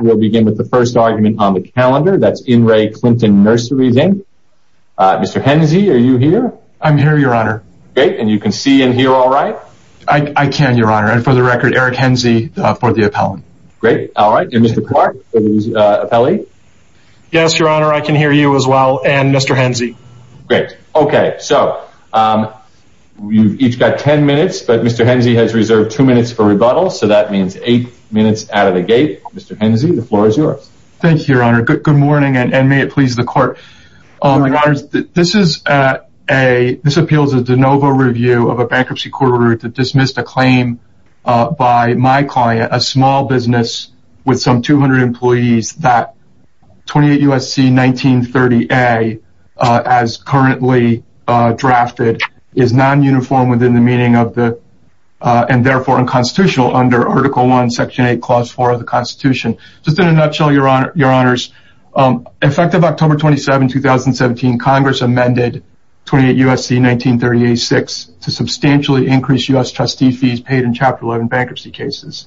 We'll begin with the first argument on the calendar, that's in re. Clinton Nurseries, Inc. Mr. Henze, are you here? I'm here, Your Honor. Great, and you can see and hear all right? I can, Your Honor, and for the record, Eric Henze for the appellant. Great, all right, and Mr. Clark for the appellee? Yes, Your Honor, I can hear you as well, and Mr. Henze. Great, okay, so you've each got ten minutes, but Mr. Henze has reserved two minutes for rebuttal, so that means eight minutes out of the gate. Mr. Henze, the floor is yours. Thank you, Your Honor. Good morning, and may it please the Court. Your Honor, this appeals a de novo review of a bankruptcy court order to dismiss the claim by my client, a small business with some 200 employees, that 28 U.S.C. 1930A, as currently drafted, is non-uniform within the meaning of the, and therefore unconstitutional under Article I, Section 8, Clause 4 of the Constitution. Just in a nutshell, Your Honors, effective October 27, 2017, Congress amended 28 U.S.C. 1930A-6 to substantially increase U.S. trustee fees paid in Chapter 11 bankruptcy cases.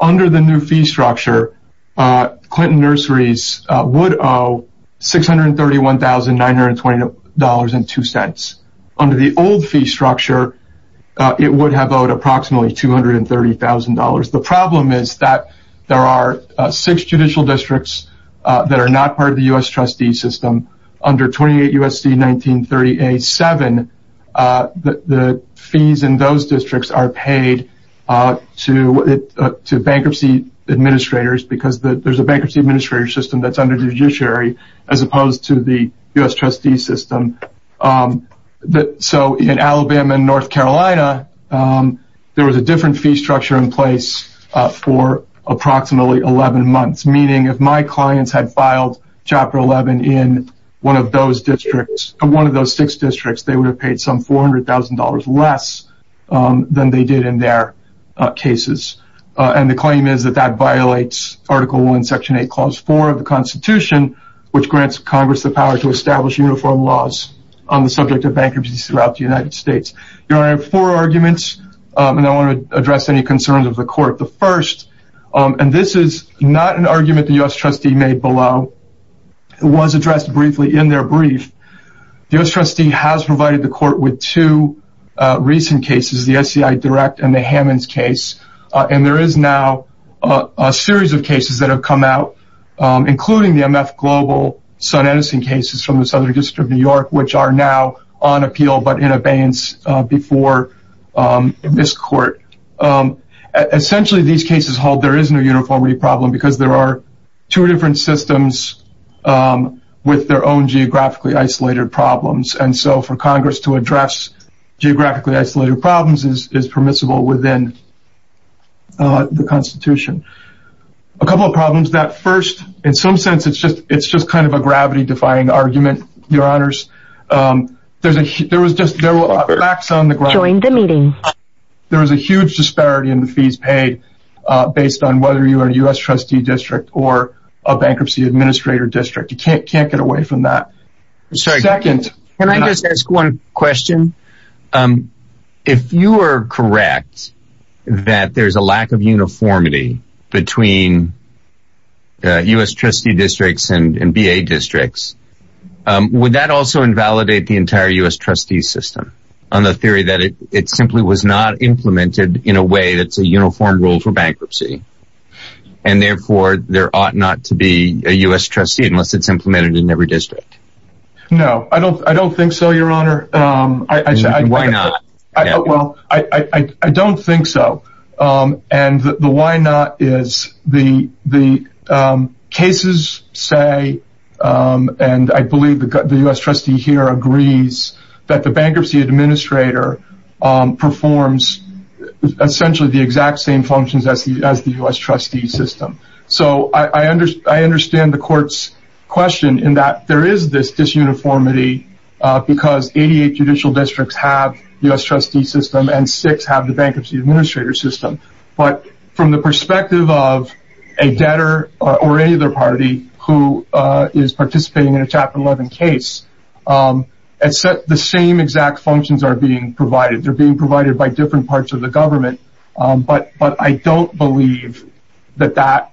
Under the new fee structure, Clinton Nurseries would owe $631,920.02. Under the old fee structure, it would have owed approximately $230,000. The problem is that there are six judicial districts that are not part of the U.S. trustee system. Under 28 U.S.C. 1930A-7, the fees in those districts are paid to bankruptcy administrators because there's a bankruptcy administrator system that's under the judiciary as opposed to the U.S. trustee system. So in Alabama and North Carolina, there was a different fee structure in place for approximately 11 months, meaning if my clients had filed Chapter 11 in one of those six districts, they would have paid some $400,000 less than they did in their cases. And the claim is that that violates Article I, Section 8, Clause 4 of the Constitution, which grants Congress the power to establish uniform laws on the subject of bankruptcies throughout the United States. Your Honor, I have four arguments, and I want to address any concerns of the Court. The first, and this is not an argument the U.S. trustee made below, was addressed briefly in their brief. The U.S. trustee has provided the Court with two recent cases, the SCI Direct and the Hammons case, and there is now a series of cases that have come out, including the MF Global Sun Edison cases from the Southern District of New York, which are now on appeal but in abeyance before this Court. Essentially, these cases hold there is no uniformity problem because there are two different systems with their own geographically isolated problems, and so for Congress to address geographically isolated problems is permissible within the Constitution. A couple of problems, that first, in some sense, it's just kind of a gravity-defying argument, Your Honors. There was a huge disparity in the fees paid based on whether you are a U.S. trustee district or a bankruptcy administrator district. You can't get away from that. Can I just ask one question? If you are correct that there's a lack of uniformity between U.S. trustee districts and B.A. districts, would that also invalidate the entire U.S. trustee system on the theory that it simply was not implemented in a way that's a uniform rule for bankruptcy, and therefore there ought not to be a U.S. trustee unless it's implemented in every district? No, I don't think so, Your Honor. Why not? Well, I don't think so, and the why not is the cases say, and I believe the U.S. trustee here agrees, that the bankruptcy administrator performs essentially the exact same functions as the U.S. trustee system. So I understand the court's question in that there is this disuniformity because 88 judicial districts have U.S. trustee system and six have the bankruptcy administrator system. But from the perspective of a debtor or any other party who is participating in a Chapter 11 case, the same exact functions are being provided. They're being provided by different parts of the government. But I don't believe that that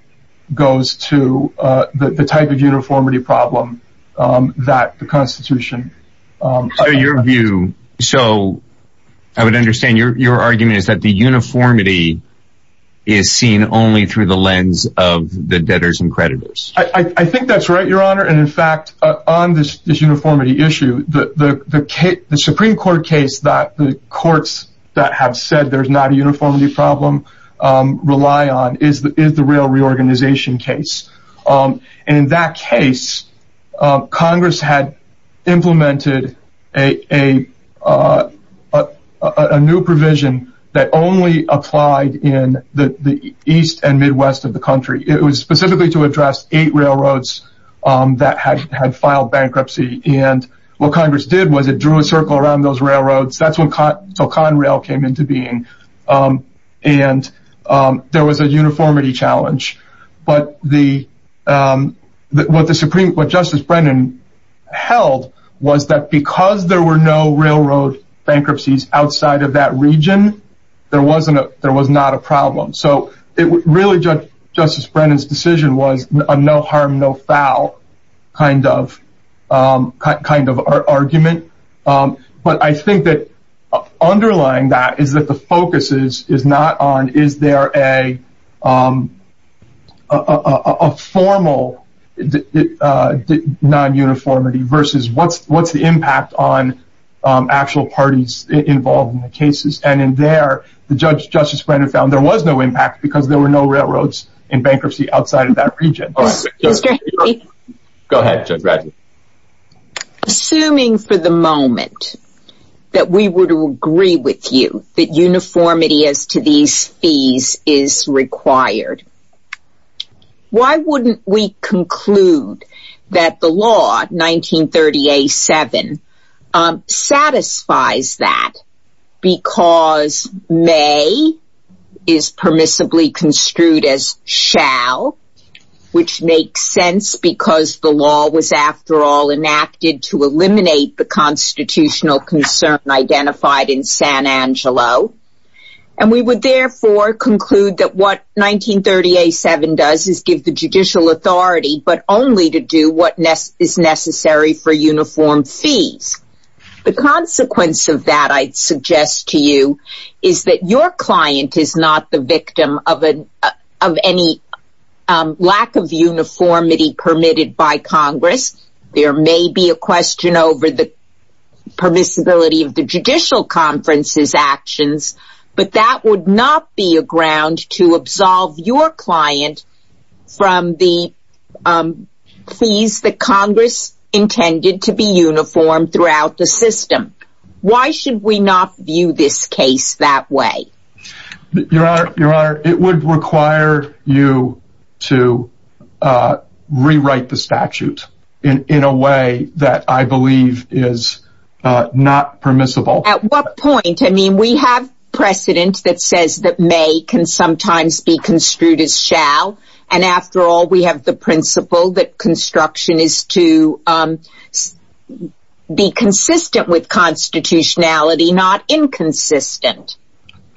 goes to the type of uniformity problem that the Constitution provides. So I would understand your argument is that the uniformity is seen only through the lens of the debtors and creditors. I think that's right, Your Honor. And, in fact, on this disuniformity issue, the Supreme Court case that the courts that have said there's not a uniformity problem rely on is the rail reorganization case. And in that case, Congress had implemented a new provision that only applied in the east and midwest of the country. It was specifically to address eight railroads that had filed bankruptcy. And what Congress did was it drew a circle around those railroads. That's when ConRail came into being. And there was a uniformity challenge. But what Justice Brennan held was that because there were no railroad bankruptcies outside of that region, there was not a problem. So really, Justice Brennan's decision was a no harm, no foul kind of argument. But I think that underlying that is that the focus is not on is there a formal non-uniformity versus what's the impact on actual parties involved in the cases. And in there, Justice Brennan found there was no impact because there were no railroads in bankruptcy outside of that region. Go ahead, Judge Bradley. Assuming for the moment that we were to agree with you that uniformity as to these fees is required, why wouldn't we conclude that the law 1938-7 satisfies that because may is permissibly construed as shall, which makes sense because the law was after all enacted to eliminate the constitutional concern identified in San Angelo. And we would therefore conclude that what 1938-7 does is give the judicial authority but only to do what is necessary for uniform fees. The consequence of that, I'd suggest to you, is that your client is not the victim of any lack of uniformity permitted by Congress. There may be a question over the permissibility of the judicial conference's actions, but that would not be a ground to absolve your client from the fees that Congress intended to be uniform throughout the system. Why should we not view this case that way? Your Honor, it would require you to rewrite the statute in a way that I believe is not permissible. At what point? I mean, we have precedent that says that may can sometimes be construed as shall, and after all, we have the principle that construction is to be consistent with constitutionality, not inconsistent.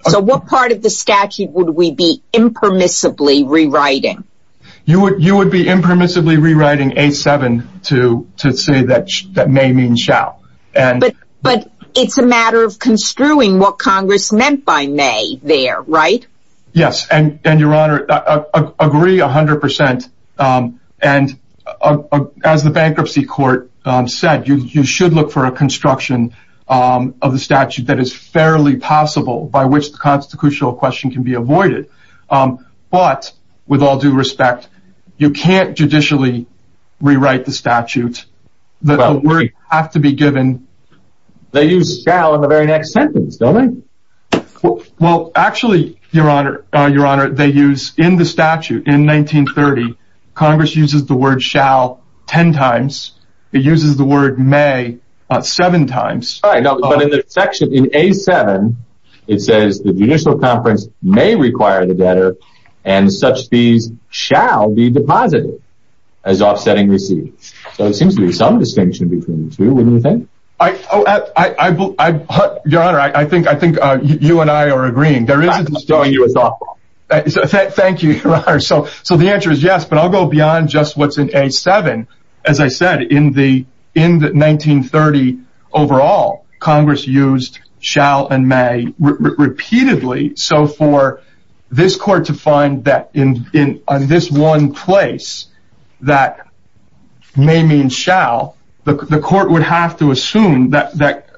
So what part of the statute would we be impermissibly rewriting? You would be impermissibly rewriting 8-7 to say that may means shall. But it's a matter of construing what Congress meant by may there, right? Yes, and Your Honor, I agree 100%, and as the bankruptcy court said, you should look for a construction of the statute that is fairly possible by which the constitutional question can be avoided. But, with all due respect, you can't judicially rewrite the statute. The word has to be given. They use shall in the very next sentence, don't they? Well, actually, Your Honor, they use, in the statute in 1930, Congress uses the word shall ten times. It uses the word may seven times. But in the section, in 8-7, it says the judicial conference may require the debtor, and such fees shall be deposited as offsetting receipts. So there seems to be some distinction between the two, wouldn't you think? Your Honor, I think you and I are agreeing. Thank you, Your Honor. So the answer is yes, but I'll go beyond just what's in 8-7. As I said, in 1930 overall, Congress used shall and may repeatedly. So for this court to find that in this one place, that may means shall, the court would have to assume that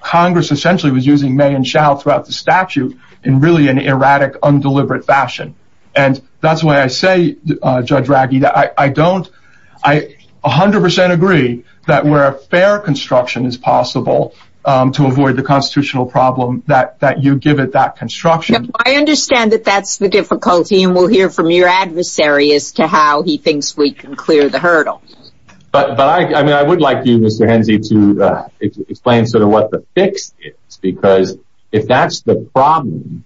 Congress essentially was using may and shall throughout the statute in really an erratic, undeliberate fashion. And that's why I say, Judge Ragge, I don't, I 100% agree that where a fair construction is possible to avoid the constitutional problem, that you give it that construction. I understand that that's the difficulty, and we'll hear from your adversary as to how he thinks we can clear the hurdle. But I mean, I would like you, Mr. Henze, to explain sort of what the fix is, because if that's the problem,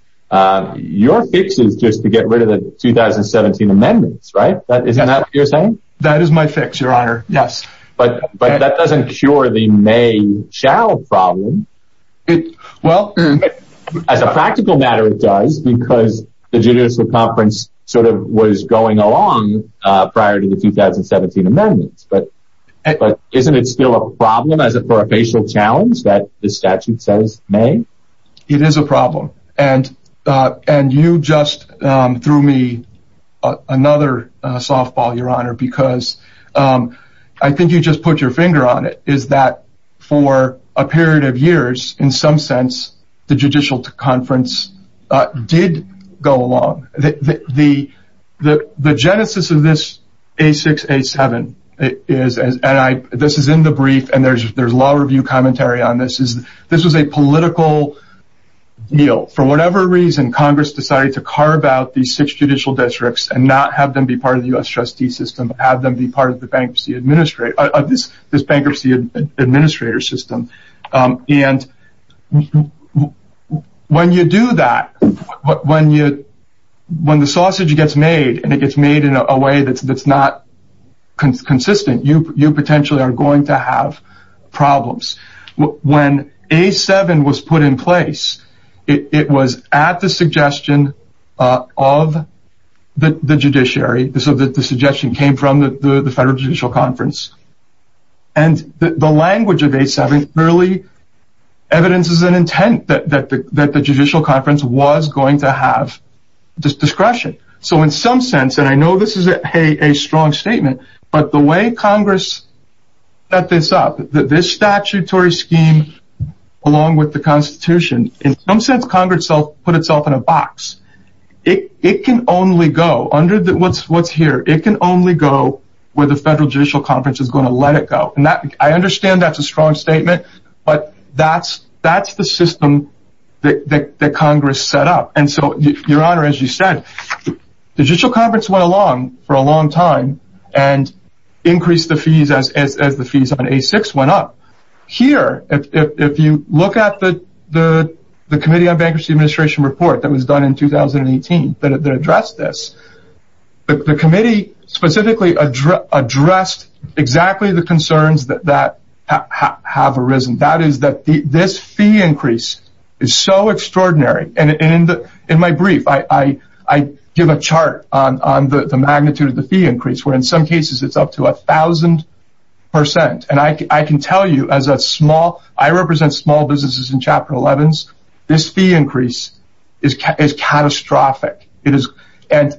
your fix is just to get rid of the 2017 amendments, right? Isn't that what you're saying? That is my fix, Your Honor. Yes. But that doesn't cure the may-shall problem. Well... As a practical matter, it does, because the judicial conference sort of was going along prior to the 2017 amendments. But isn't it still a problem for a facial challenge that the statute says may? It is a problem. And you just threw me another softball, Your Honor, because I think you just put your finger on it, is that for a period of years, in some sense, the judicial conference did go along. The genesis of this A6-A7, and this is in the brief, and there's law review commentary on this, is this was a political deal. For whatever reason, Congress decided to carve out these six judicial districts and not have them be part of the U.S. trustee system, have them be part of this bankruptcy administrator system. And when you do that, when the sausage gets made, and it gets made in a way that's not consistent, you potentially are going to have problems. When A7 was put in place, it was at the suggestion of the judiciary. The suggestion came from the Federal Judicial Conference. And the language of A7 clearly evidences an intent that the Judicial Conference was going to have discretion. So in some sense, and I know this is a strong statement, but the way Congress set this up, this statutory scheme along with the Constitution, in some sense, Congress put itself in a box. It can only go, under what's here, it can only go where the Federal Judicial Conference is going to let it go. And I understand that's a strong statement, but that's the system that Congress set up. And so, Your Honor, as you said, the Judicial Conference went along for a long time and increased the fees as the fees on A6 went up. Here, if you look at the Committee on Bankruptcy Administration report that was done in 2018 that addressed this, the committee specifically addressed exactly the concerns that have arisen. That is that this fee increase is so extraordinary. And in my brief, I give a chart on the magnitude of the fee increase, where in some cases it's up to 1,000%. And I can tell you as a small, I represent small businesses in Chapter 11s. This fee increase is catastrophic. Let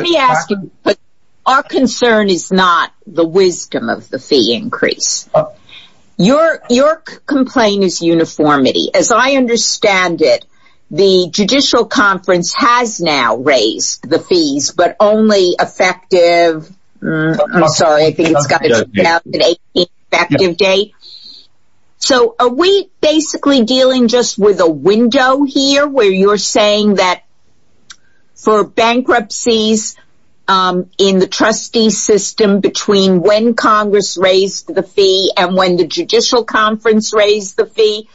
me ask you, our concern is not the wisdom of the fee increase. Your complaint is uniformity. As I understand it, the Judicial Conference has now raised the fees, but only effective, I'm sorry, I think it's got to be effective date. So, are we basically dealing just with a window here where you're saying that for bankruptcies in the trustee system between when Congress raised the fee and when the Judicial Conference raised the fee,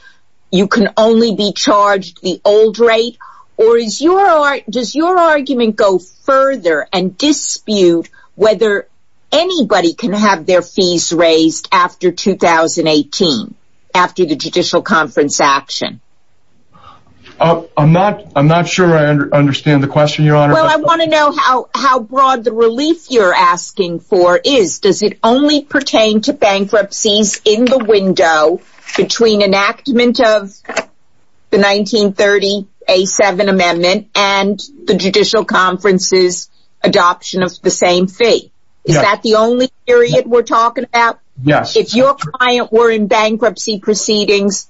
you can only be charged the old rate? Or does your argument go further and dispute whether anybody can have their fees raised after 2018, after the Judicial Conference action? I'm not sure I understand the question, Your Honor. Well, I want to know how broad the relief you're asking for is. Does it only pertain to bankruptcies in the window between enactment of the 1930 A7 Amendment and the Judicial Conference's adoption of the same fee? Is that the only period we're talking about? Yes. If your client were in bankruptcy proceedings,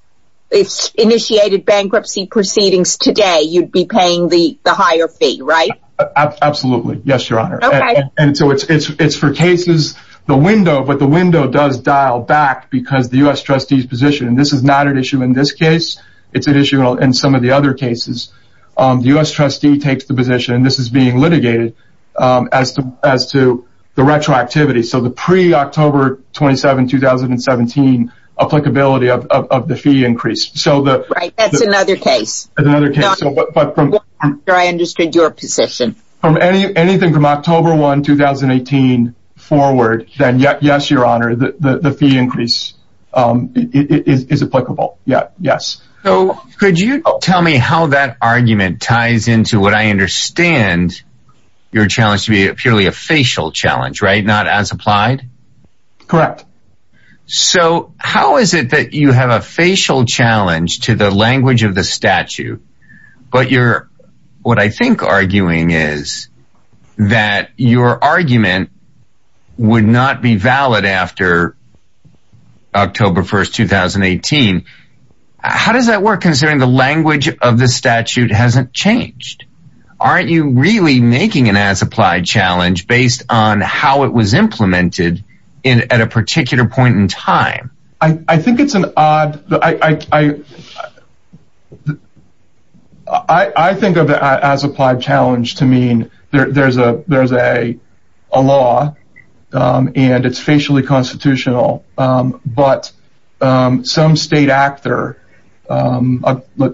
initiated bankruptcy proceedings today, you'd be paying the higher fee, right? Absolutely. Yes, Your Honor. Okay. And so it's for cases, the window, but the window does dial back because the U.S. trustee's position. This is not an issue in this case. It's an issue in some of the other cases. The U.S. trustee takes the position, and this is being litigated, as to the retroactivity, so the pre-October 27, 2017, applicability of the fee increase. Right, that's another case. That's another case. I'm not sure I understood your position. Anything from October 1, 2018 forward, then yes, Your Honor, the fee increase is applicable. Yes. Could you tell me how that argument ties into what I understand your challenge to be purely a facial challenge, right? Not as applied? Correct. So how is it that you have a facial challenge to the language of the statute, but what I think you're arguing is that your argument would not be valid after October 1, 2018. How does that work, considering the language of the statute hasn't changed? Aren't you really making an as-applied challenge based on how it was implemented at a particular point in time? I think it's an odd—I think of the as-applied challenge to mean there's a law, and it's facially constitutional, but some state actor,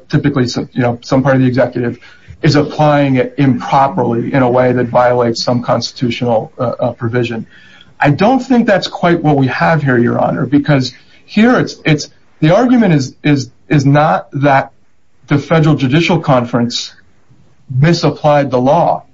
typically some part of the executive, is applying it improperly in a way that violates some constitutional provision. I don't think that's quite what we have here, Your Honor, because here it's—the argument is not that the Federal Judicial Conference misapplied the law.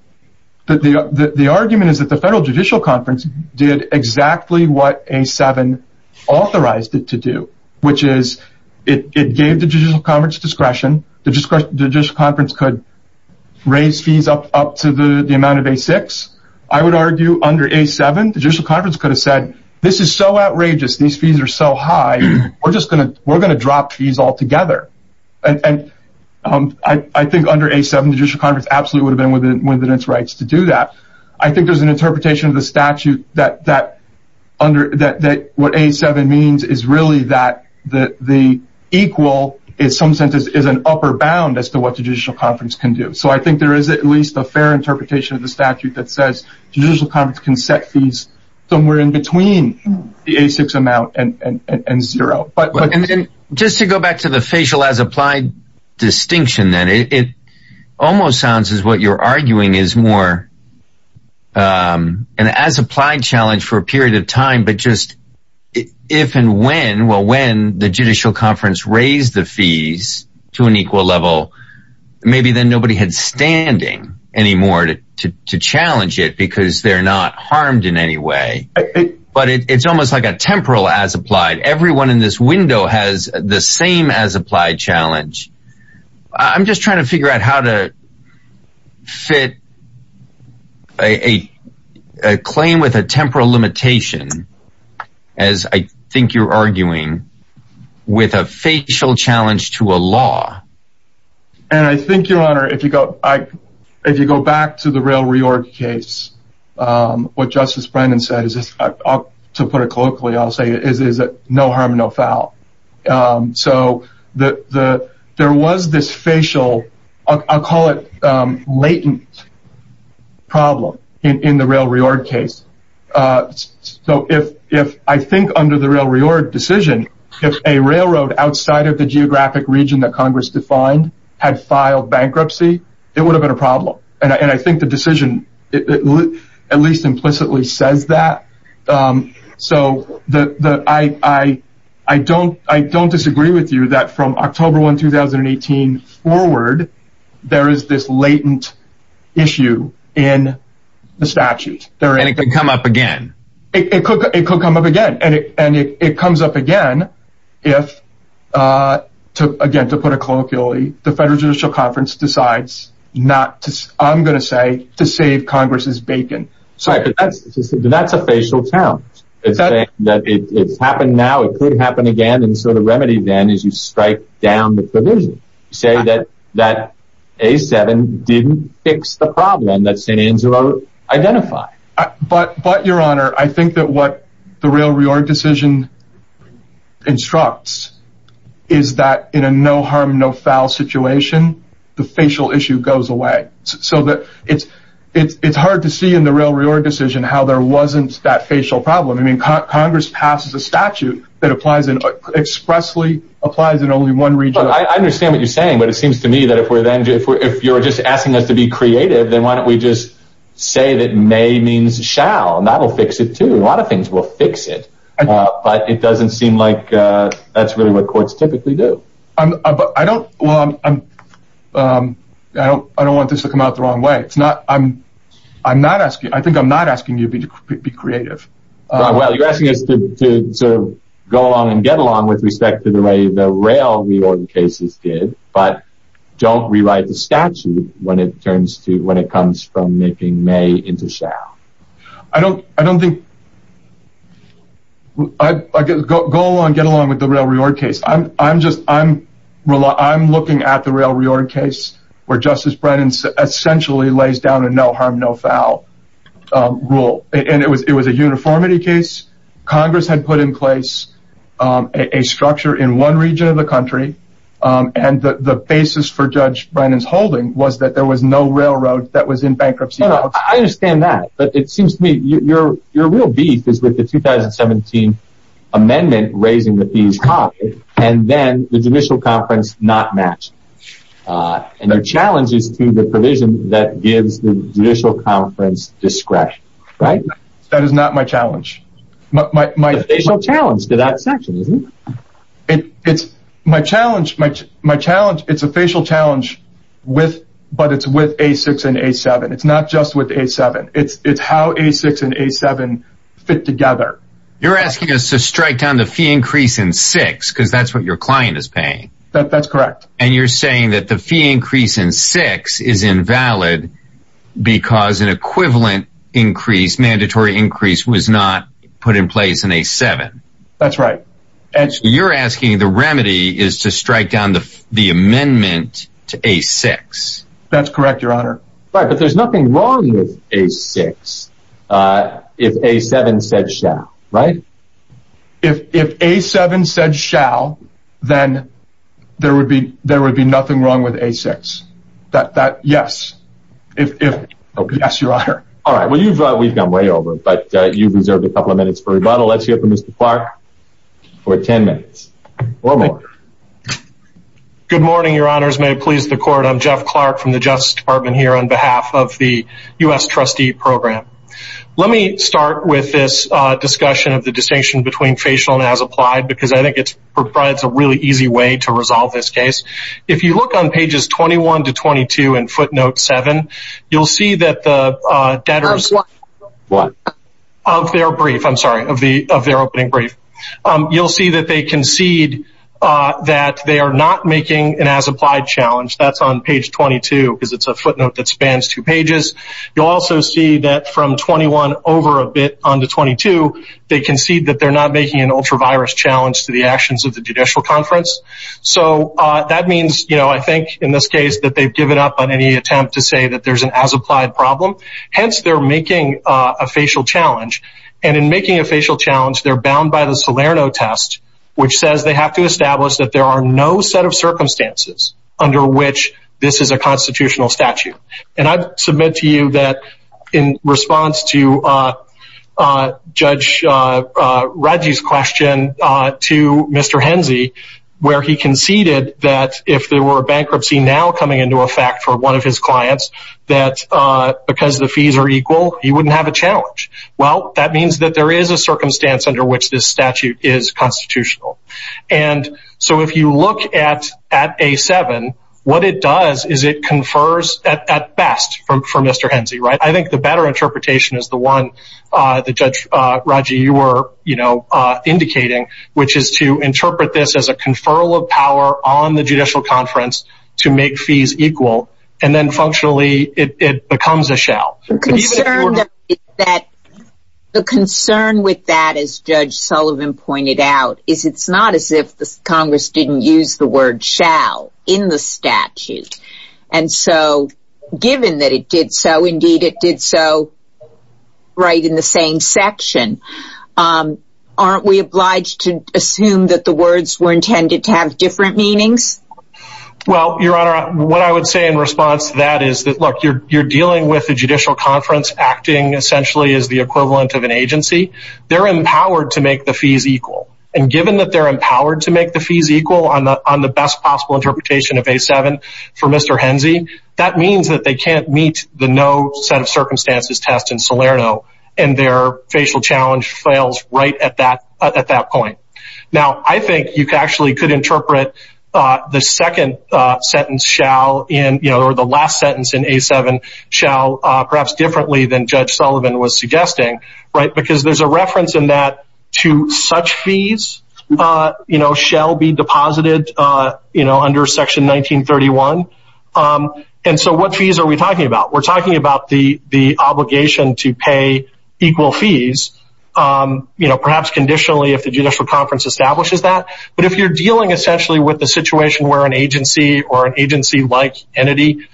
The argument is that the Federal Judicial Conference did exactly what A7 authorized it to do, which is it gave the Judicial Conference discretion. The Judicial Conference could raise fees up to the amount of A6. I would argue under A7, the Judicial Conference could have said, this is so outrageous, these fees are so high, we're going to drop fees altogether. I think under A7, the Judicial Conference absolutely would have been within its rights to do that. I think there's an interpretation of the statute that what A7 means is really that the equal, in some sense, is an upper bound as to what the Judicial Conference can do. I think there is at least a fair interpretation of the statute that says the Judicial Conference can set fees somewhere in between the A6 amount and zero. Just to go back to the facial as applied distinction, then, it almost sounds as what you're arguing is more an as applied challenge for a period of time, but just if and when the Judicial Conference raised the fees to an equal level, maybe then nobody had standing anymore to challenge it because they're not harmed in any way. But it's almost like a temporal as applied. Everyone in this window has the same as applied challenge. I'm just trying to figure out how to fit a claim with a temporal limitation, as I think you're arguing, with a facial challenge to a law. And I think, Your Honor, if you go back to the Rail Reorg case, what Justice Brennan said, to put it colloquially, is no harm, no foul. So there was this facial, I'll call it latent, problem in the Rail Reorg case. So I think under the Rail Reorg decision, if a railroad outside of the geographic region that Congress defined had filed bankruptcy, it would have been a problem. And I think the decision at least implicitly says that. So I don't disagree with you that from October 1, 2018 forward, there is this latent issue in the statute. And it could come up again. It could come up again. And it comes up again if, again, to put it colloquially, the Federal Judicial Conference decides not to, I'm going to say, to save Congress's bacon. Right, but that's a facial challenge. It's saying that it's happened now, it could happen again, and so the remedy then is you strike down the provision. You say that A7 didn't fix the problem that St. Angelo identified. But, Your Honor, I think that what the Rail Reorg decision instructs is that in a no harm, no foul situation, the facial issue goes away. So it's hard to see in the Rail Reorg decision how there wasn't that facial problem. I mean, Congress passes a statute that expressly applies in only one region. I understand what you're saying, but it seems to me that if you're just asking us to be creative, then why don't we just say that may means shall, and that will fix it too. A lot of things will fix it. But it doesn't seem like that's really what courts typically do. I don't want this to come out the wrong way. I think I'm not asking you to be creative. Well, you're asking us to go along and get along with respect to the way the Rail Reorg cases did, but don't rewrite the statute when it comes from making may into shall. Go along and get along with the Rail Reorg case. I'm looking at the Rail Reorg case where Justice Brennan essentially lays down a no harm, no foul rule. It was a uniformity case. Congress had put in place a structure in one region of the country, and the basis for Judge Brennan's holding was that there was no railroad that was in bankruptcy. I understand that, but it seems to me that your real beef is with the 2017 amendment raising the fees high, and then the judicial conference not matching. And your challenge is to the provision that gives the judicial conference discretion. That is not my challenge. It's a facial challenge to that section, isn't it? It's how A-6 and A-7 fit together. You're asking us to strike down the fee increase in A-6 because that's what your client is paying. That's correct. And you're saying that the fee increase in A-6 is invalid because an equivalent increase, mandatory increase, was not put in place in A-7. That's right. You're asking the remedy is to strike down the amendment to A-6. That's correct, Your Honor. But there's nothing wrong with A-6 if A-7 said shall, right? If A-7 said shall, then there would be nothing wrong with A-6. Yes, Your Honor. All right. We've gone way over, but you've reserved a couple of minutes for rebuttal. Let's hear from Mr. Clark for 10 minutes or more. Good morning, Your Honors. May it please the Court. I'm Jeff Clark from the Justice Department here on behalf of the U.S. Trustee Program. Let me start with this discussion of the distinction between facial and as applied because I think it's a really easy way to resolve this case. If you look on pages 21 to 22 in footnote 7, you'll see that the debtors of their brief, I'm sorry, of their opening brief, you'll see that they concede that they are not making an as applied challenge. That's on page 22 because it's a footnote that spans two pages. You'll also see that from 21 over a bit on to 22, they concede that they're not making an ultra virus challenge to the actions of the Judicial Conference. So that means, you know, I think in this case that they've given up on any attempt to say that there's an as applied problem. Hence, they're making a facial challenge. And in making a facial challenge, they're bound by the Salerno test, which says they have to establish that there are no set of circumstances under which this is a constitutional statute. And I submit to you that in response to Judge Radji's question to Mr. Henze, where he conceded that if there were a bankruptcy now coming into effect for one of his clients, that because the fees are equal, he wouldn't have a challenge. Well, that means that there is a circumstance under which this statute is constitutional. And so if you look at at A7, what it does is it confers at best for Mr. Henze. I think the better interpretation is the one that Judge Radji, you were indicating, which is to interpret this as a conferral of power on the Judicial Conference to make fees equal. The concern with that, as Judge Sullivan pointed out, is it's not as if Congress didn't use the word shall in the statute. And so given that it did so, indeed, it did so right in the same section. Aren't we obliged to assume that the words were intended to have different meanings? Well, Your Honor, what I would say in response to that is that, look, you're dealing with the Judicial Conference acting essentially as the equivalent of an agency. They're empowered to make the fees equal. And given that they're empowered to make the fees equal on the best possible interpretation of A7 for Mr. Henze, that means that they can't meet the no set of circumstances test in Salerno. And their facial challenge fails right at that point. Now, I think you actually could interpret the second sentence shall in or the last sentence in A7 shall perhaps differently than Judge Sullivan was suggesting. Right. Because there's a reference in that to such fees shall be deposited under Section 1931. And so what fees are we talking about? We're talking about the obligation to pay equal fees. You know, perhaps conditionally if the Judicial Conference establishes that. But if you're dealing essentially with the situation where an agency or an agency like entity,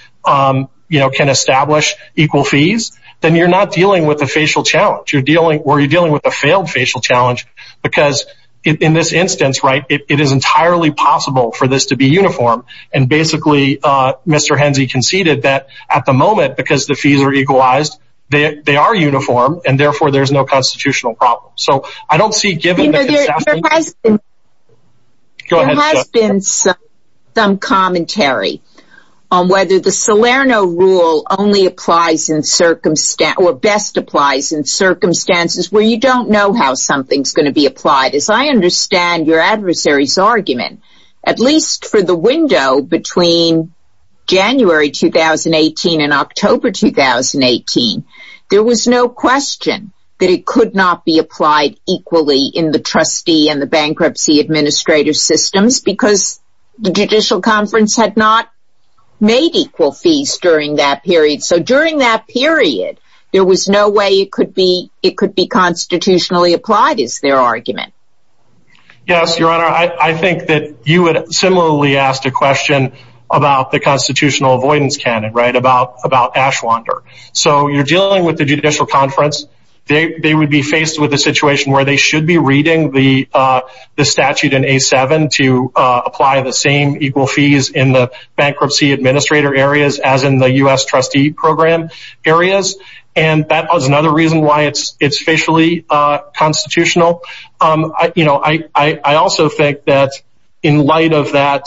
you know, can establish equal fees, then you're not dealing with a facial challenge. You're dealing or you're dealing with a failed facial challenge because in this instance, right, it is entirely possible for this to be uniform. And basically, Mr. Henze conceded that at the moment, because the fees are equalized, they are uniform and therefore there's no constitutional problem. So I don't see given. There has been some commentary on whether the Salerno rule only applies in circumstance or best applies in circumstances where you don't know how something's going to be applied. As I understand your adversary's argument, at least for the window between January 2018 and October 2018, there was no question that it could not be applied equally in the trustee and the bankruptcy administrative systems because the Judicial Conference had not made equal fees during that period. So during that period, there was no way it could be. It could be constitutionally applied is their argument. Yes, Your Honor. I think that you would similarly ask a question about the constitutional avoidance canon right about about Ashwander. So you're dealing with the Judicial Conference. They would be faced with a situation where they should be reading the statute in a seven to apply the same equal fees in the bankruptcy administrator areas as in the U.S. trustee program areas. And that was another reason why it's it's facially constitutional. You know, I also think that in light of that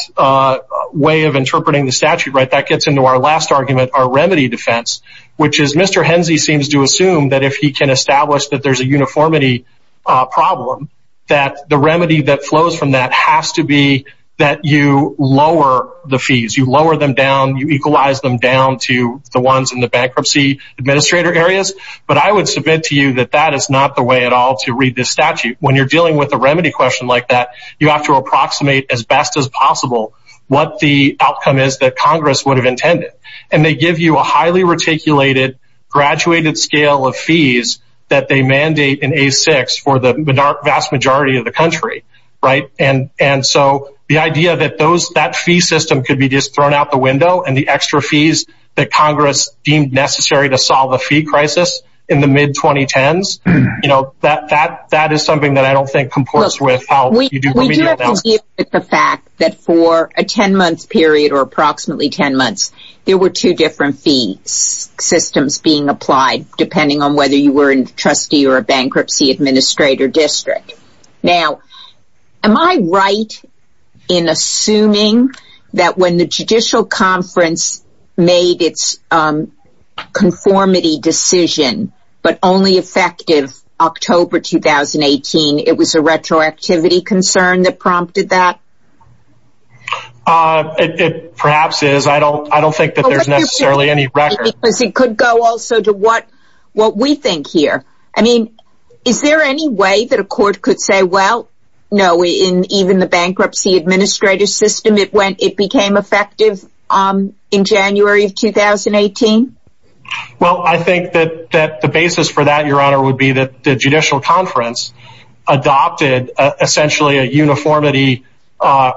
way of interpreting the statute, right, that gets into our last argument, our remedy defense, which is Mr. Henzey seems to assume that if he can establish that there's a uniformity problem, that the remedy that flows from that has to be that you lower the fees. You lower them down. You equalize them down to the ones in the bankruptcy administrator areas. But I would submit to you that that is not the way at all to read this statute. When you're dealing with a remedy question like that, you have to approximate as best as possible what the outcome is that Congress would have intended. And they give you a highly reticulated graduated scale of fees that they mandate in a six for the vast majority of the country. Right. And and so the idea that those that fee system could be just thrown out the window and the extra fees that Congress deemed necessary to solve a fee crisis in the mid 2010s, you know, that that that is something that I don't think comports with how we do the fact that for a 10 month period or approximately 10 months, there were two different fees systems being applied depending on whether you were in trustee or a bankruptcy administrator district. Now, am I right in assuming that when the judicial conference made its conformity decision, but only effective October 2018, it was a retroactivity concern that prompted that it perhaps is. I don't I don't think that there's necessarily any record because it could go also to what what we think here. I mean, is there any way that a court could say, well, no. In even the bankruptcy administrative system, it went it became effective in January of 2018. Well, I think that that the basis for that, Your Honor, would be that the judicial conference adopted essentially a uniformity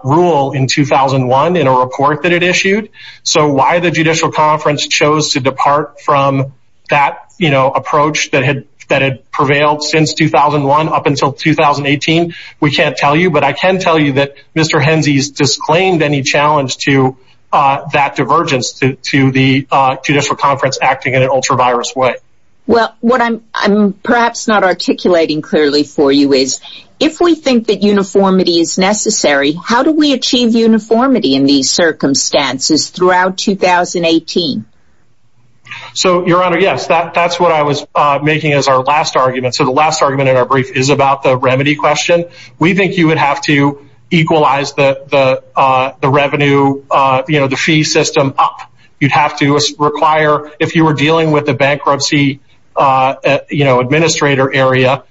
rule in 2001 in a report that it issued. So why the judicial conference chose to depart from that approach that had that had prevailed since 2001 up until 2018? We can't tell you, but I can tell you that Mr. Henzies disclaimed any challenge to that divergence to the judicial conference acting in an ultra virus way. Well, what I'm I'm perhaps not articulating clearly for you is if we think that uniformity is necessary, how do we achieve uniformity in these circumstances throughout 2018? So, Your Honor, yes, that that's what I was making as our last argument. So the last argument in our brief is about the remedy question. We think you would have to equalize the the the revenue, you know, the fee system up. You'd have to require if you were dealing with the bankruptcy administrator area,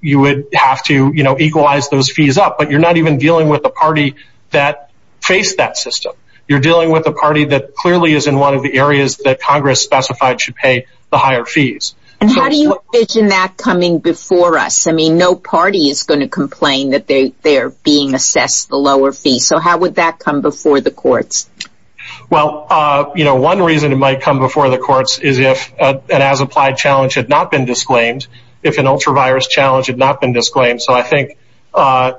you would have to equalize those fees up. But you're not even dealing with the party that face that system. You're dealing with a party that clearly is in one of the areas that Congress specified should pay the higher fees. And how do you imagine that coming before us? I mean, no party is going to complain that they're being assessed the lower fee. So how would that come before the courts? Well, you know, one reason it might come before the courts is if an as applied challenge had not been disclaimed, if an ultra virus challenge had not been disclaimed. So I think,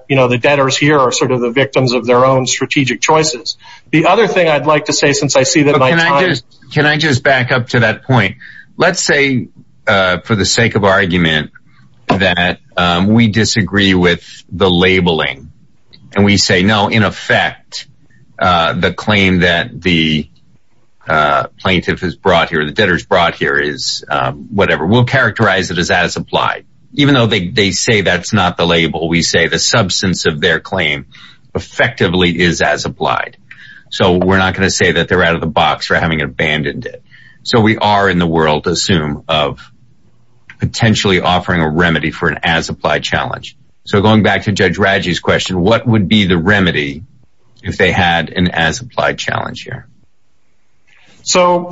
you know, the debtors here are sort of the victims of their own strategic choices. The other thing I'd like to say, since I see that, can I just back up to that point? Let's say for the sake of argument that we disagree with the labeling and we say, no, in effect, the claim that the plaintiff has brought here, the debtors brought here is whatever. We'll characterize it as as applied, even though they say that's not the label. We say the substance of their claim effectively is as applied. So we're not going to say that they're out of the box for having abandoned it. So we are in the world, assume of potentially offering a remedy for an as applied challenge. So going back to Judge Radji's question, what would be the remedy if they had an as applied challenge here? So,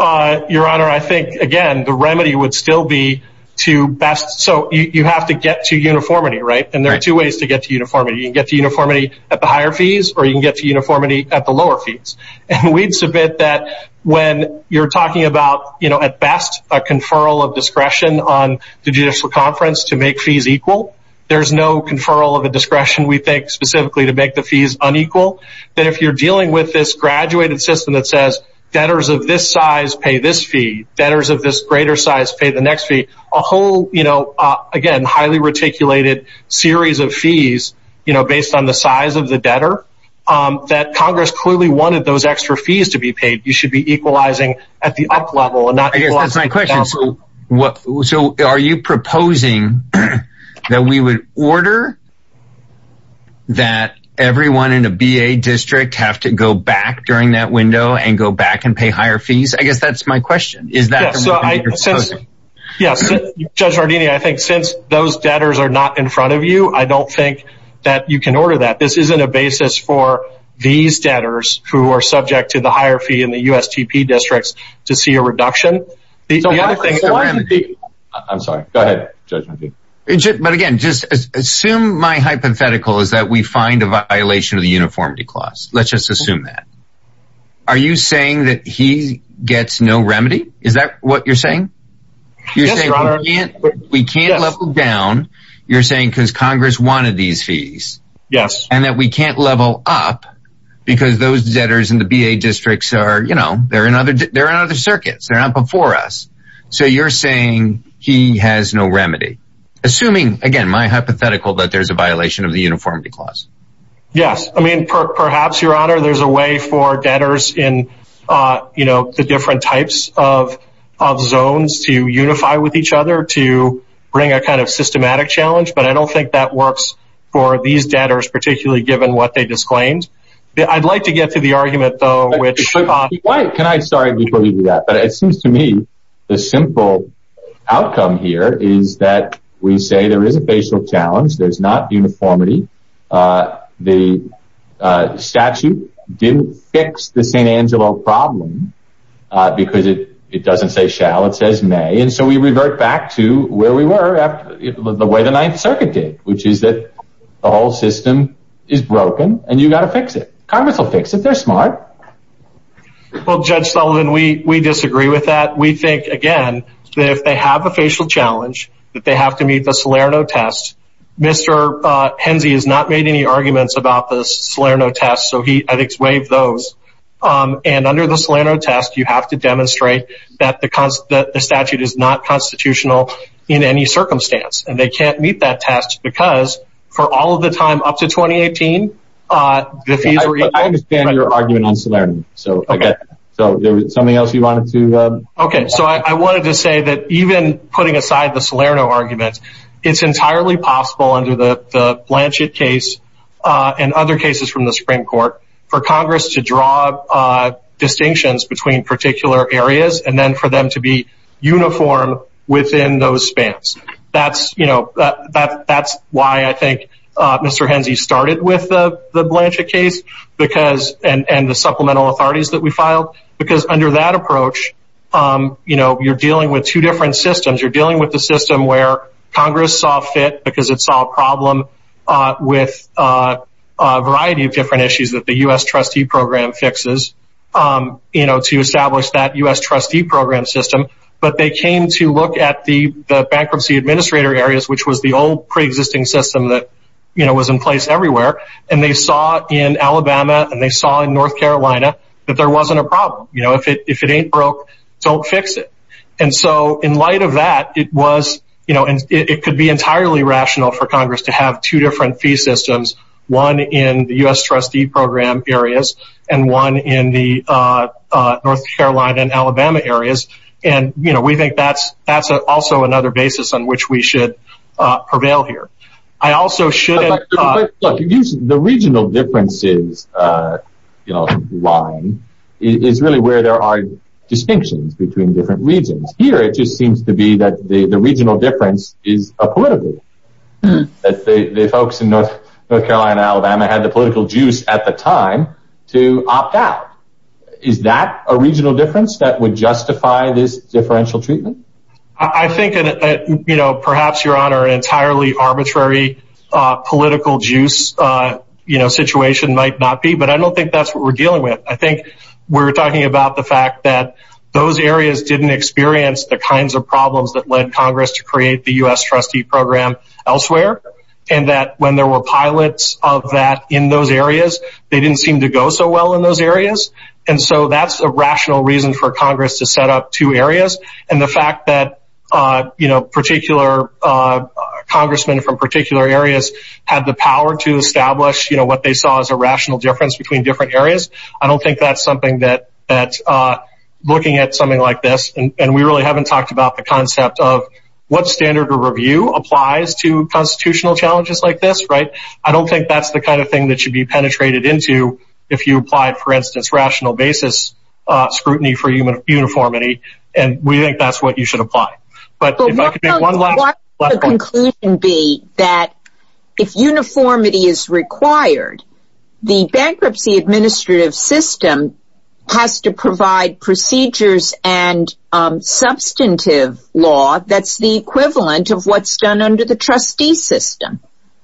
Your Honor, I think, again, the remedy would still be to best. So you have to get to uniformity, right? And there are two ways to get to uniformity. You can get to uniformity at the higher fees or you can get to uniformity at the lower fees. And we'd submit that when you're talking about, you know, at best a conferral of discretion on the judicial conference to make fees equal. There's no conferral of a discretion, we think, specifically to make the fees unequal. That if you're dealing with this graduated system that says debtors of this size pay this fee, debtors of this greater size pay the next fee, a whole, you know, again, highly reticulated series of fees, you know, based on the size of the debtor. That Congress clearly wanted those extra fees to be paid. You should be equalizing at the up level and not equalizing at the down level. I guess that's my question. So are you proposing that we would order that everyone in a BA district have to go back during that window and go back and pay higher fees? I guess that's my question. Is that the remedy you're proposing? Yes. Judge Ardini, I think since those debtors are not in front of you, I don't think that you can order that. This isn't a basis for these debtors who are subject to the higher fee in the USGP districts to see a reduction. I'm sorry. Go ahead. But again, just assume my hypothetical is that we find a violation of the uniformity clause. Let's just assume that. Are you saying that he gets no remedy? Is that what you're saying? We can't level down. You're saying because Congress wanted these fees. Yes. And that we can't level up because those debtors in the BA districts are in other circuits. They're not before us. So you're saying he has no remedy. Assuming, again, my hypothetical that there's a violation of the uniformity clause. Yes. I mean, perhaps, Your Honor, there's a way for debtors in the different types of zones to unify with each other to bring a kind of systematic challenge. But I don't think that works for these debtors, particularly given what they disclaimed. I'd like to get to the argument, though. Can I? Sorry. But it seems to me the simple outcome here is that we say there is a facial challenge. There's not uniformity. The statute didn't fix the St. Angelo problem because it doesn't say shall. It says may. And so we revert back to where we were the way the Ninth Circuit did, which is that the whole system is broken and you've got to fix it. Congress will fix it. They're smart. Well, Judge Sullivan, we disagree with that. We think, again, that if they have a facial challenge, that they have to meet the Salerno test. Mr. Henze has not made any arguments about the Salerno test, so I think he's waived those. And under the Salerno test, you have to demonstrate that the statute is not constitutional in any circumstance. And they can't meet that test because for all of the time up to 2018, the fees were equal. I understand your argument on Salerno. So something else you wanted to add? Okay, so I wanted to say that even putting aside the Salerno argument, it's entirely possible under the Blanchett case and other cases from the Supreme Court for Congress to draw distinctions between particular areas and then for them to be uniform within those spans. That's why I think Mr. Henze started with the Blanchett case and the supplemental authorities that we filed. Because under that approach, you're dealing with two different systems. You're dealing with the system where Congress saw fit because it saw a problem with a variety of different issues that the U.S. trustee program fixes to establish that U.S. trustee program system. But they came to look at the bankruptcy administrator areas, which was the old preexisting system that was in place everywhere. And they saw in Alabama and they saw in North Carolina that there wasn't a problem. If it ain't broke, don't fix it. And so in light of that, it could be entirely rational for Congress to have two different fee systems, one in the U.S. trustee program areas and one in the North Carolina and Alabama areas. And we think that's also another basis on which we should prevail here. The regional differences line is really where there are distinctions between different regions. Here, it just seems to be that the regional difference is a political. The folks in North Carolina and Alabama had the political juice at the time to opt out. Is that a regional difference that would justify this differential treatment? I think perhaps, Your Honor, an entirely arbitrary political juice situation might not be. But I don't think that's what we're dealing with. I think we're talking about the fact that those areas didn't experience the kinds of problems that led Congress to create the U.S. trustee program elsewhere. And that when there were pilots of that in those areas, they didn't seem to go so well in those areas. And so that's a rational reason for Congress to set up two areas. And the fact that particular congressmen from particular areas had the power to establish what they saw as a rational difference between different areas, I don't think that's something that looking at something like this, and we really haven't talked about the concept of what standard of review applies to constitutional challenges like this. I don't think that's the kind of thing that should be penetrated into if you applied, for instance, rational basis scrutiny for uniformity. And we think that's what you should apply. But if I could make one last point. But what would the conclusion be that if uniformity is required, the bankruptcy administrative system has to provide procedures and substantive law that's the equivalent of what's done under the trustee system.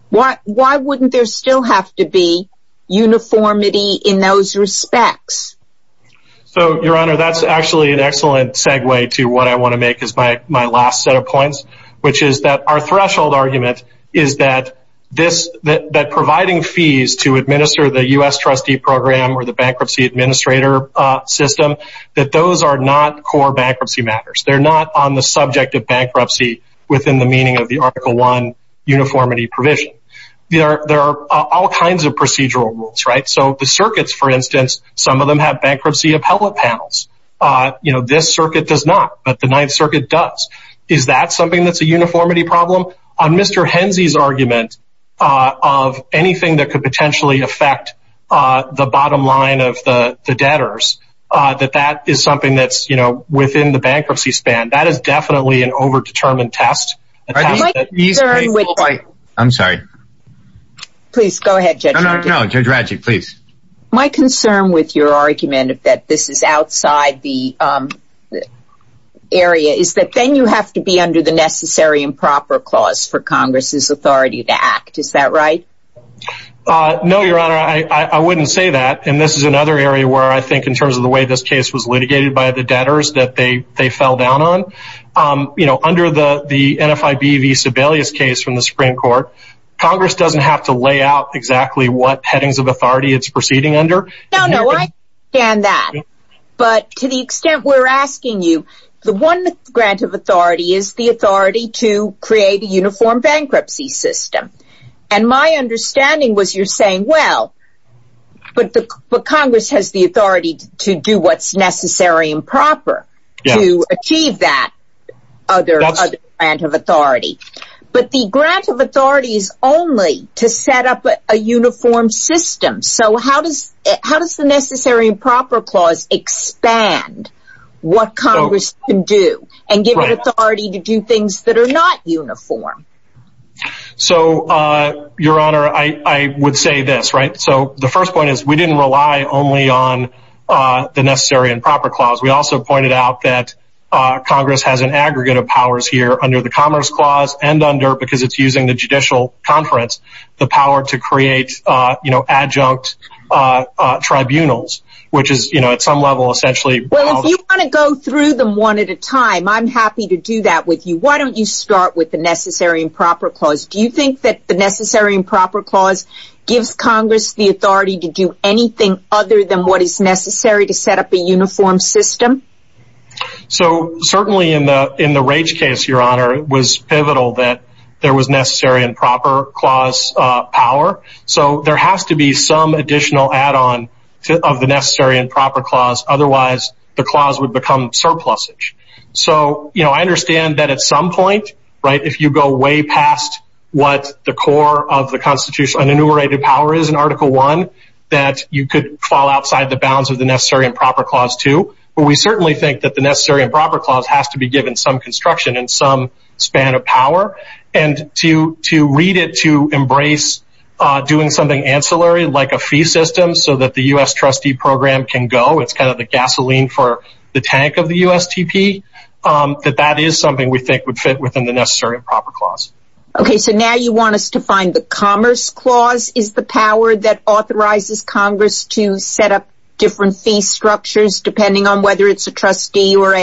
Why wouldn't there still have to be uniformity in those respects? So, Your Honor, that's actually an excellent segue to what I want to make as my last set of points, which is that our threshold argument is that providing fees to administer the U.S. trustee program or the bankruptcy administrator system, that those are not core bankruptcy matters. They're not on the subject of bankruptcy within the meaning of the Article I uniformity provision. There are all kinds of procedural rules, right? So the circuits, for instance, some of them have bankruptcy appellate panels. You know, this circuit does not, but the Ninth Circuit does. Is that something that's a uniformity problem? On Mr. Henze's argument of anything that could potentially affect the bottom line of the debtors, that that is something that's, you know, within the bankruptcy span, that is definitely an overdetermined test. I'm sorry. Please go ahead, Judge. No, no, Judge Radjic, please. My concern with your argument that this is outside the area is that then you have to be under the necessary and proper clause for Congress's authority to act. Is that right? No, Your Honor, I wouldn't say that. And this is another area where I think in terms of the way this case was litigated by the debtors that they fell down on, you know, under the NFIB v. Sebelius case from the Supreme Court, Congress doesn't have to lay out exactly what headings of authority it's proceeding under. No, no, I understand that. But to the extent we're asking you, the one grant of authority is the authority to create a uniform bankruptcy system. And my understanding was you're saying, well, but Congress has the authority to do what's necessary and proper. Yes. To achieve that other grant of authority. But the grant of authority is only to set up a uniform system. So how does the necessary and proper clause expand what Congress can do and give it authority to do things that are not uniform? So, Your Honor, I would say this, right? So the first point is we didn't rely only on the necessary and proper clause. We also pointed out that Congress has an aggregate of powers here under the Commerce Clause and under, because it's using the judicial conference, the power to create, you know, adjunct tribunals, which is, you know, at some level essentially. Well, if you want to go through them one at a time, I'm happy to do that with you. Why don't you start with the necessary and proper clause? Do you think that the necessary and proper clause gives Congress the authority to do anything other than what is necessary to set up a uniform system? So certainly in the Rage case, Your Honor, it was pivotal that there was necessary and proper clause power. So there has to be some additional add-on of the necessary and proper clause. Otherwise, the clause would become surplusage. So, you know, I understand that at some point, right, if you go way past what the core of the Constitution, what an enumerated power is in Article I, that you could fall outside the bounds of the necessary and proper clause too. But we certainly think that the necessary and proper clause has to be given some construction and some span of power. And to read it to embrace doing something ancillary, like a fee system, so that the U.S. trustee program can go, it's kind of the gasoline for the tank of the USTP, that that is something we think would fit within the necessary and proper clause. Okay, so now you want us to find the Commerce clause. Is the power that authorizes Congress to set up different fee structures, depending on whether it's a trustee or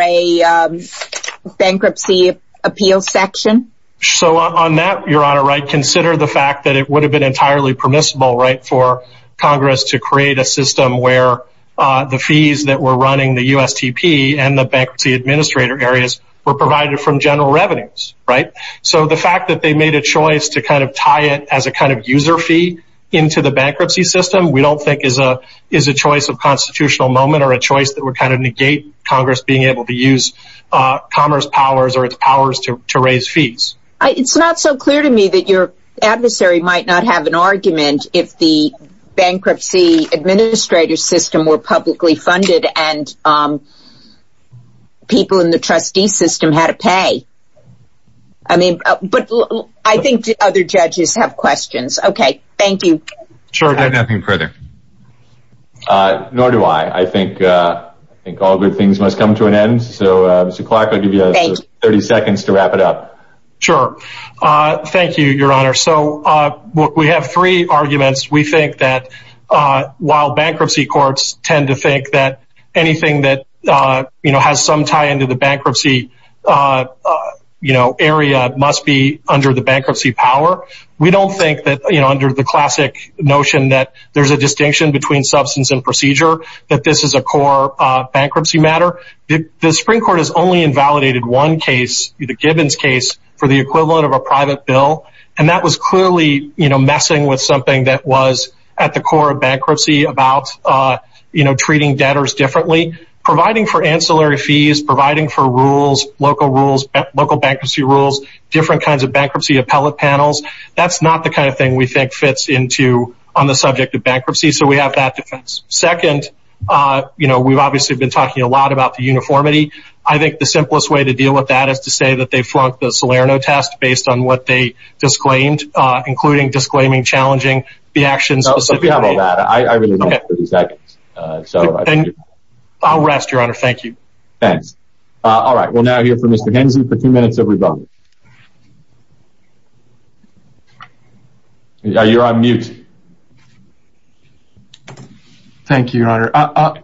a bankruptcy appeal section? So on that, Your Honor, right, consider the fact that it would have been entirely permissible, right, for Congress to create a system where the fees that were running the USTP and the bankruptcy administrator areas were provided from general revenues, right? So the fact that they made a choice to kind of tie it as a kind of user fee into the bankruptcy system, we don't think is a choice of constitutional moment or a choice that would kind of negate Congress being able to use Commerce powers or its powers to raise fees. It's not so clear to me that your adversary might not have an argument if the bankruptcy administrator system were publicly funded and people in the trustee system had to pay. I mean, but I think other judges have questions. Okay, thank you. Sure, I've got nothing further. Nor do I. I think all good things must come to an end. So, Mr. Clark, I'll give you 30 seconds to wrap it up. Sure. Thank you, Your Honor. So we have three arguments. We think that while bankruptcy courts tend to think that anything that has some tie into the bankruptcy area must be under the bankruptcy power, we don't think that under the classic notion that there's a distinction between substance and procedure, that this is a core bankruptcy matter. The Supreme Court has only invalidated one case, the Gibbons case, for the equivalent of a private bill, and that was clearly messing with something that was at the core of bankruptcy about treating debtors differently, providing for ancillary fees, providing for rules, local bankruptcy rules, different kinds of bankruptcy appellate panels. That's not the kind of thing we think fits on the subject of bankruptcy, so we have that defense. Second, you know, we've obviously been talking a lot about the uniformity. I think the simplest way to deal with that is to say that they flunked the Salerno test based on what they disclaimed, including disclaiming challenging the actions of the Supreme Court. I really don't have 30 seconds. I'll rest, Your Honor. Thank you. Thanks. All right, we'll now hear from Mr. Henze for two minutes of rebuttal. You're on mute. Thank you, Your Honor.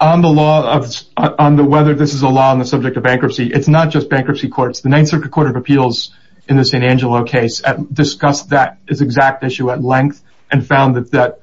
On whether this is a law on the subject of bankruptcy, it's not just bankruptcy courts. The Ninth Circuit Court of Appeals in the San Angelo case discussed that exact issue at length and found that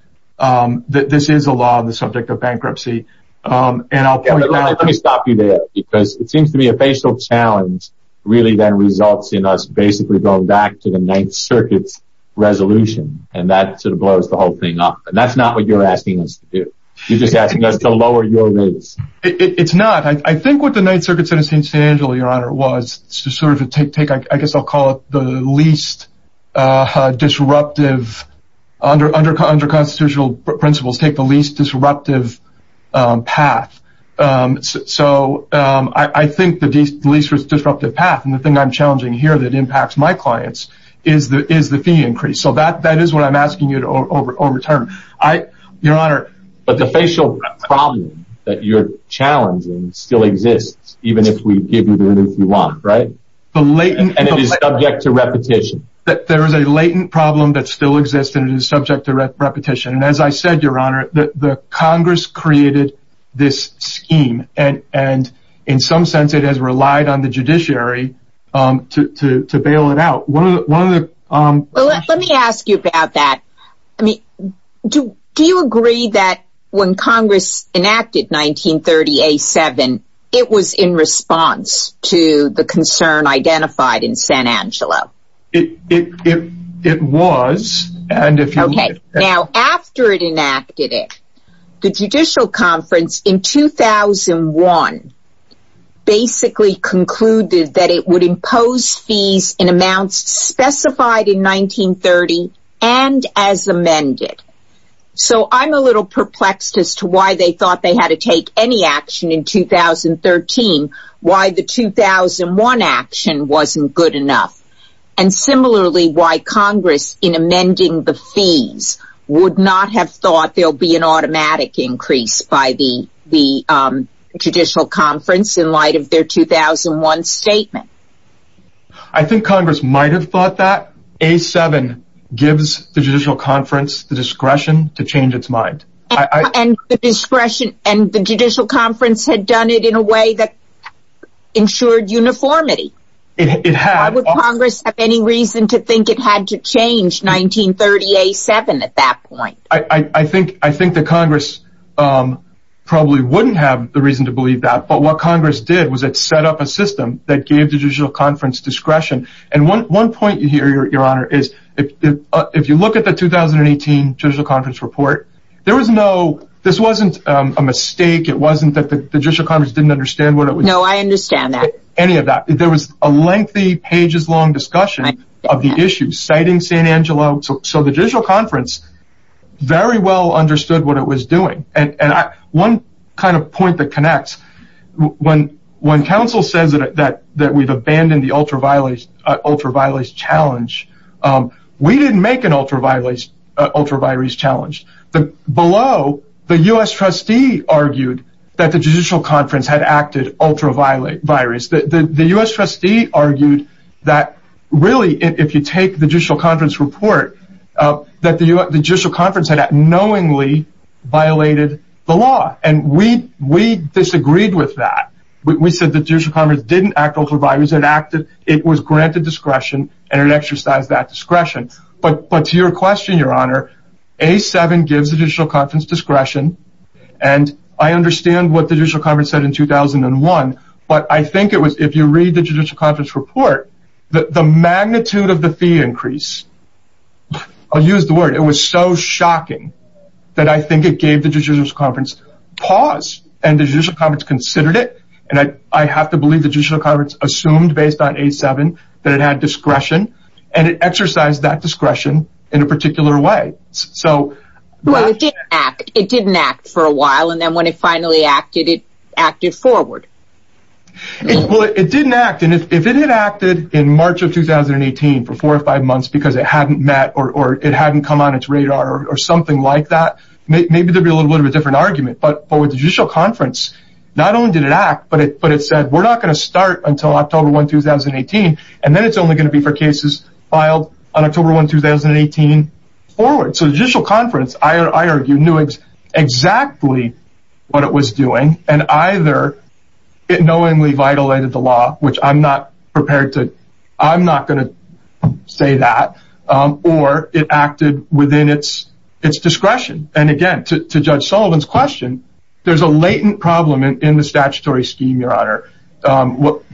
this is a law on the subject of bankruptcy. Let me stop you there, because it seems to me a facial challenge really then results in us basically going back to the Ninth Circuit's resolution, and that sort of blows the whole thing up. That's not what you're asking us to do. You're just asking us to lower your rates. It's not. I think what the Ninth Circuit said in San Angelo, Your Honor, was to sort of take, I guess I'll call it, the least disruptive, under constitutional principles, take the least disruptive path. So I think the least disruptive path, and the thing I'm challenging here that impacts my clients, is the fee increase. So that is what I'm asking you to overturn. Your Honor. But the facial problem that you're challenging still exists, even if we give you the relief you want, right? And it is subject to repetition. There is a latent problem that still exists, and it is subject to repetition. And as I said, Your Honor, the Congress created this scheme, and in some sense it has relied on the judiciary to bail it out. Well, let me ask you about that. Do you agree that when Congress enacted 1930A7, it was in response to the concern identified in San Angelo? It was. Okay. Now, after it enacted it, the Judicial Conference in 2001 basically concluded that it would impose fees in amounts specified in 1930 and as amended. So I'm a little perplexed as to why they thought they had to take any action in 2013, why the 2001 action wasn't good enough. And similarly, why Congress, in amending the fees, would not have thought there would be an automatic increase by the Judicial Conference in light of their 2001 statement. I think Congress might have thought that. A7 gives the Judicial Conference the discretion to change its mind. And the Judicial Conference had done it in a way that ensured uniformity. Why would Congress have any reason to think it had to change 1930A7 at that point? I think the Congress probably wouldn't have the reason to believe that. But what Congress did was it set up a system that gave the Judicial Conference discretion. And one point here, Your Honor, is if you look at the 2018 Judicial Conference report, this wasn't a mistake. It wasn't that the Judicial Conference didn't understand what it was doing. No, I understand that. There was a lengthy, pages-long discussion of the issue, citing St. Angelo. So the Judicial Conference very well understood what it was doing. And one kind of point that connects, when counsel says that we've abandoned the ultraviolet challenge, we didn't make an ultraviolet challenge. Below, the U.S. trustee argued that the Judicial Conference had acted ultraviolet. The U.S. trustee argued that, really, if you take the Judicial Conference report, that the Judicial Conference had knowingly violated the law. And we disagreed with that. We said the Judicial Conference didn't act ultraviolet. It was granted discretion, and it exercised that discretion. But to your question, Your Honor, A7 gives the Judicial Conference discretion. And I understand what the Judicial Conference said in 2001. But I think it was, if you read the Judicial Conference report, the magnitude of the fee increase, I'll use the word, it was so shocking that I think it gave the Judicial Conference pause. And the Judicial Conference considered it. And I have to believe the Judicial Conference assumed, based on A7, that it had discretion. And it exercised that discretion in a particular way. Well, it didn't act. It didn't act for a while. And then when it finally acted, it acted forward. Well, it didn't act. And if it had acted in March of 2018 for four or five months because it hadn't met or it hadn't come on its radar or something like that, maybe there'd be a little bit of a different argument. But with the Judicial Conference, not only did it act, but it said, we're not going to start until October 1, 2018. And then it's only going to be for cases filed on October 1, 2018 forward. So the Judicial Conference, I argue, knew exactly what it was doing. And either it knowingly vitilated the law, which I'm not prepared to, I'm not going to say that, or it acted within its discretion. And again, to Judge Sullivan's question, there's a latent problem in the statutory scheme, Your Honor,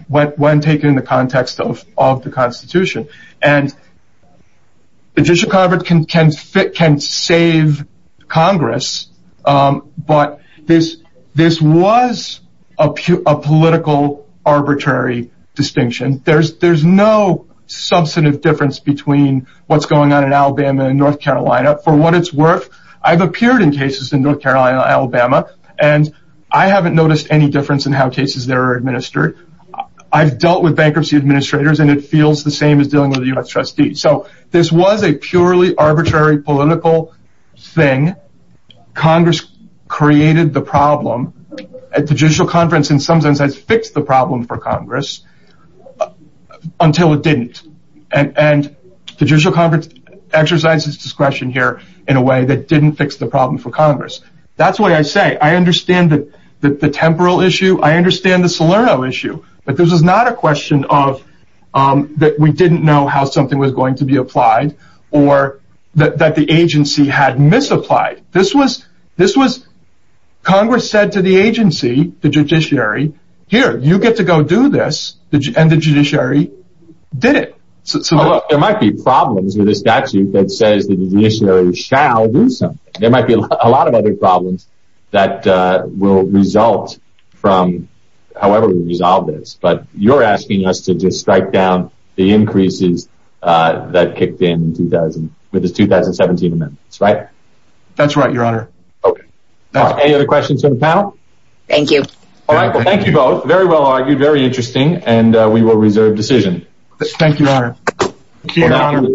when taken in the context of the Constitution. And the Judicial Conference can save Congress, but this was a political arbitrary distinction. There's no substantive difference between what's going on in Alabama and North Carolina. For what it's worth, I've appeared in cases in North Carolina and Alabama, and I haven't noticed any difference in how cases there are administered. I've dealt with bankruptcy administrators, and it feels the same as dealing with a U.S. trustee. So this was a purely arbitrary political thing. Congress created the problem. The Judicial Conference, in some sense, has fixed the problem for Congress until it didn't. And the Judicial Conference exercises discretion here in a way that didn't fix the problem for Congress. That's what I say. I understand the temporal issue. I understand the Salerno issue. But this is not a question of that we didn't know how something was going to be applied or that the agency had misapplied. Congress said to the agency, the judiciary, here, you get to go do this, and the judiciary did it. There might be problems with the statute that says the judiciary shall do something. There might be a lot of other problems that will result from however we resolve this. But you're asking us to just strike down the increases that kicked in with the 2017 amendments, right? That's right, Your Honor. Any other questions for the panel? Thank you. All right, well, thank you both. Very well argued, very interesting, and we will reserve decision. Thank you, Your Honor.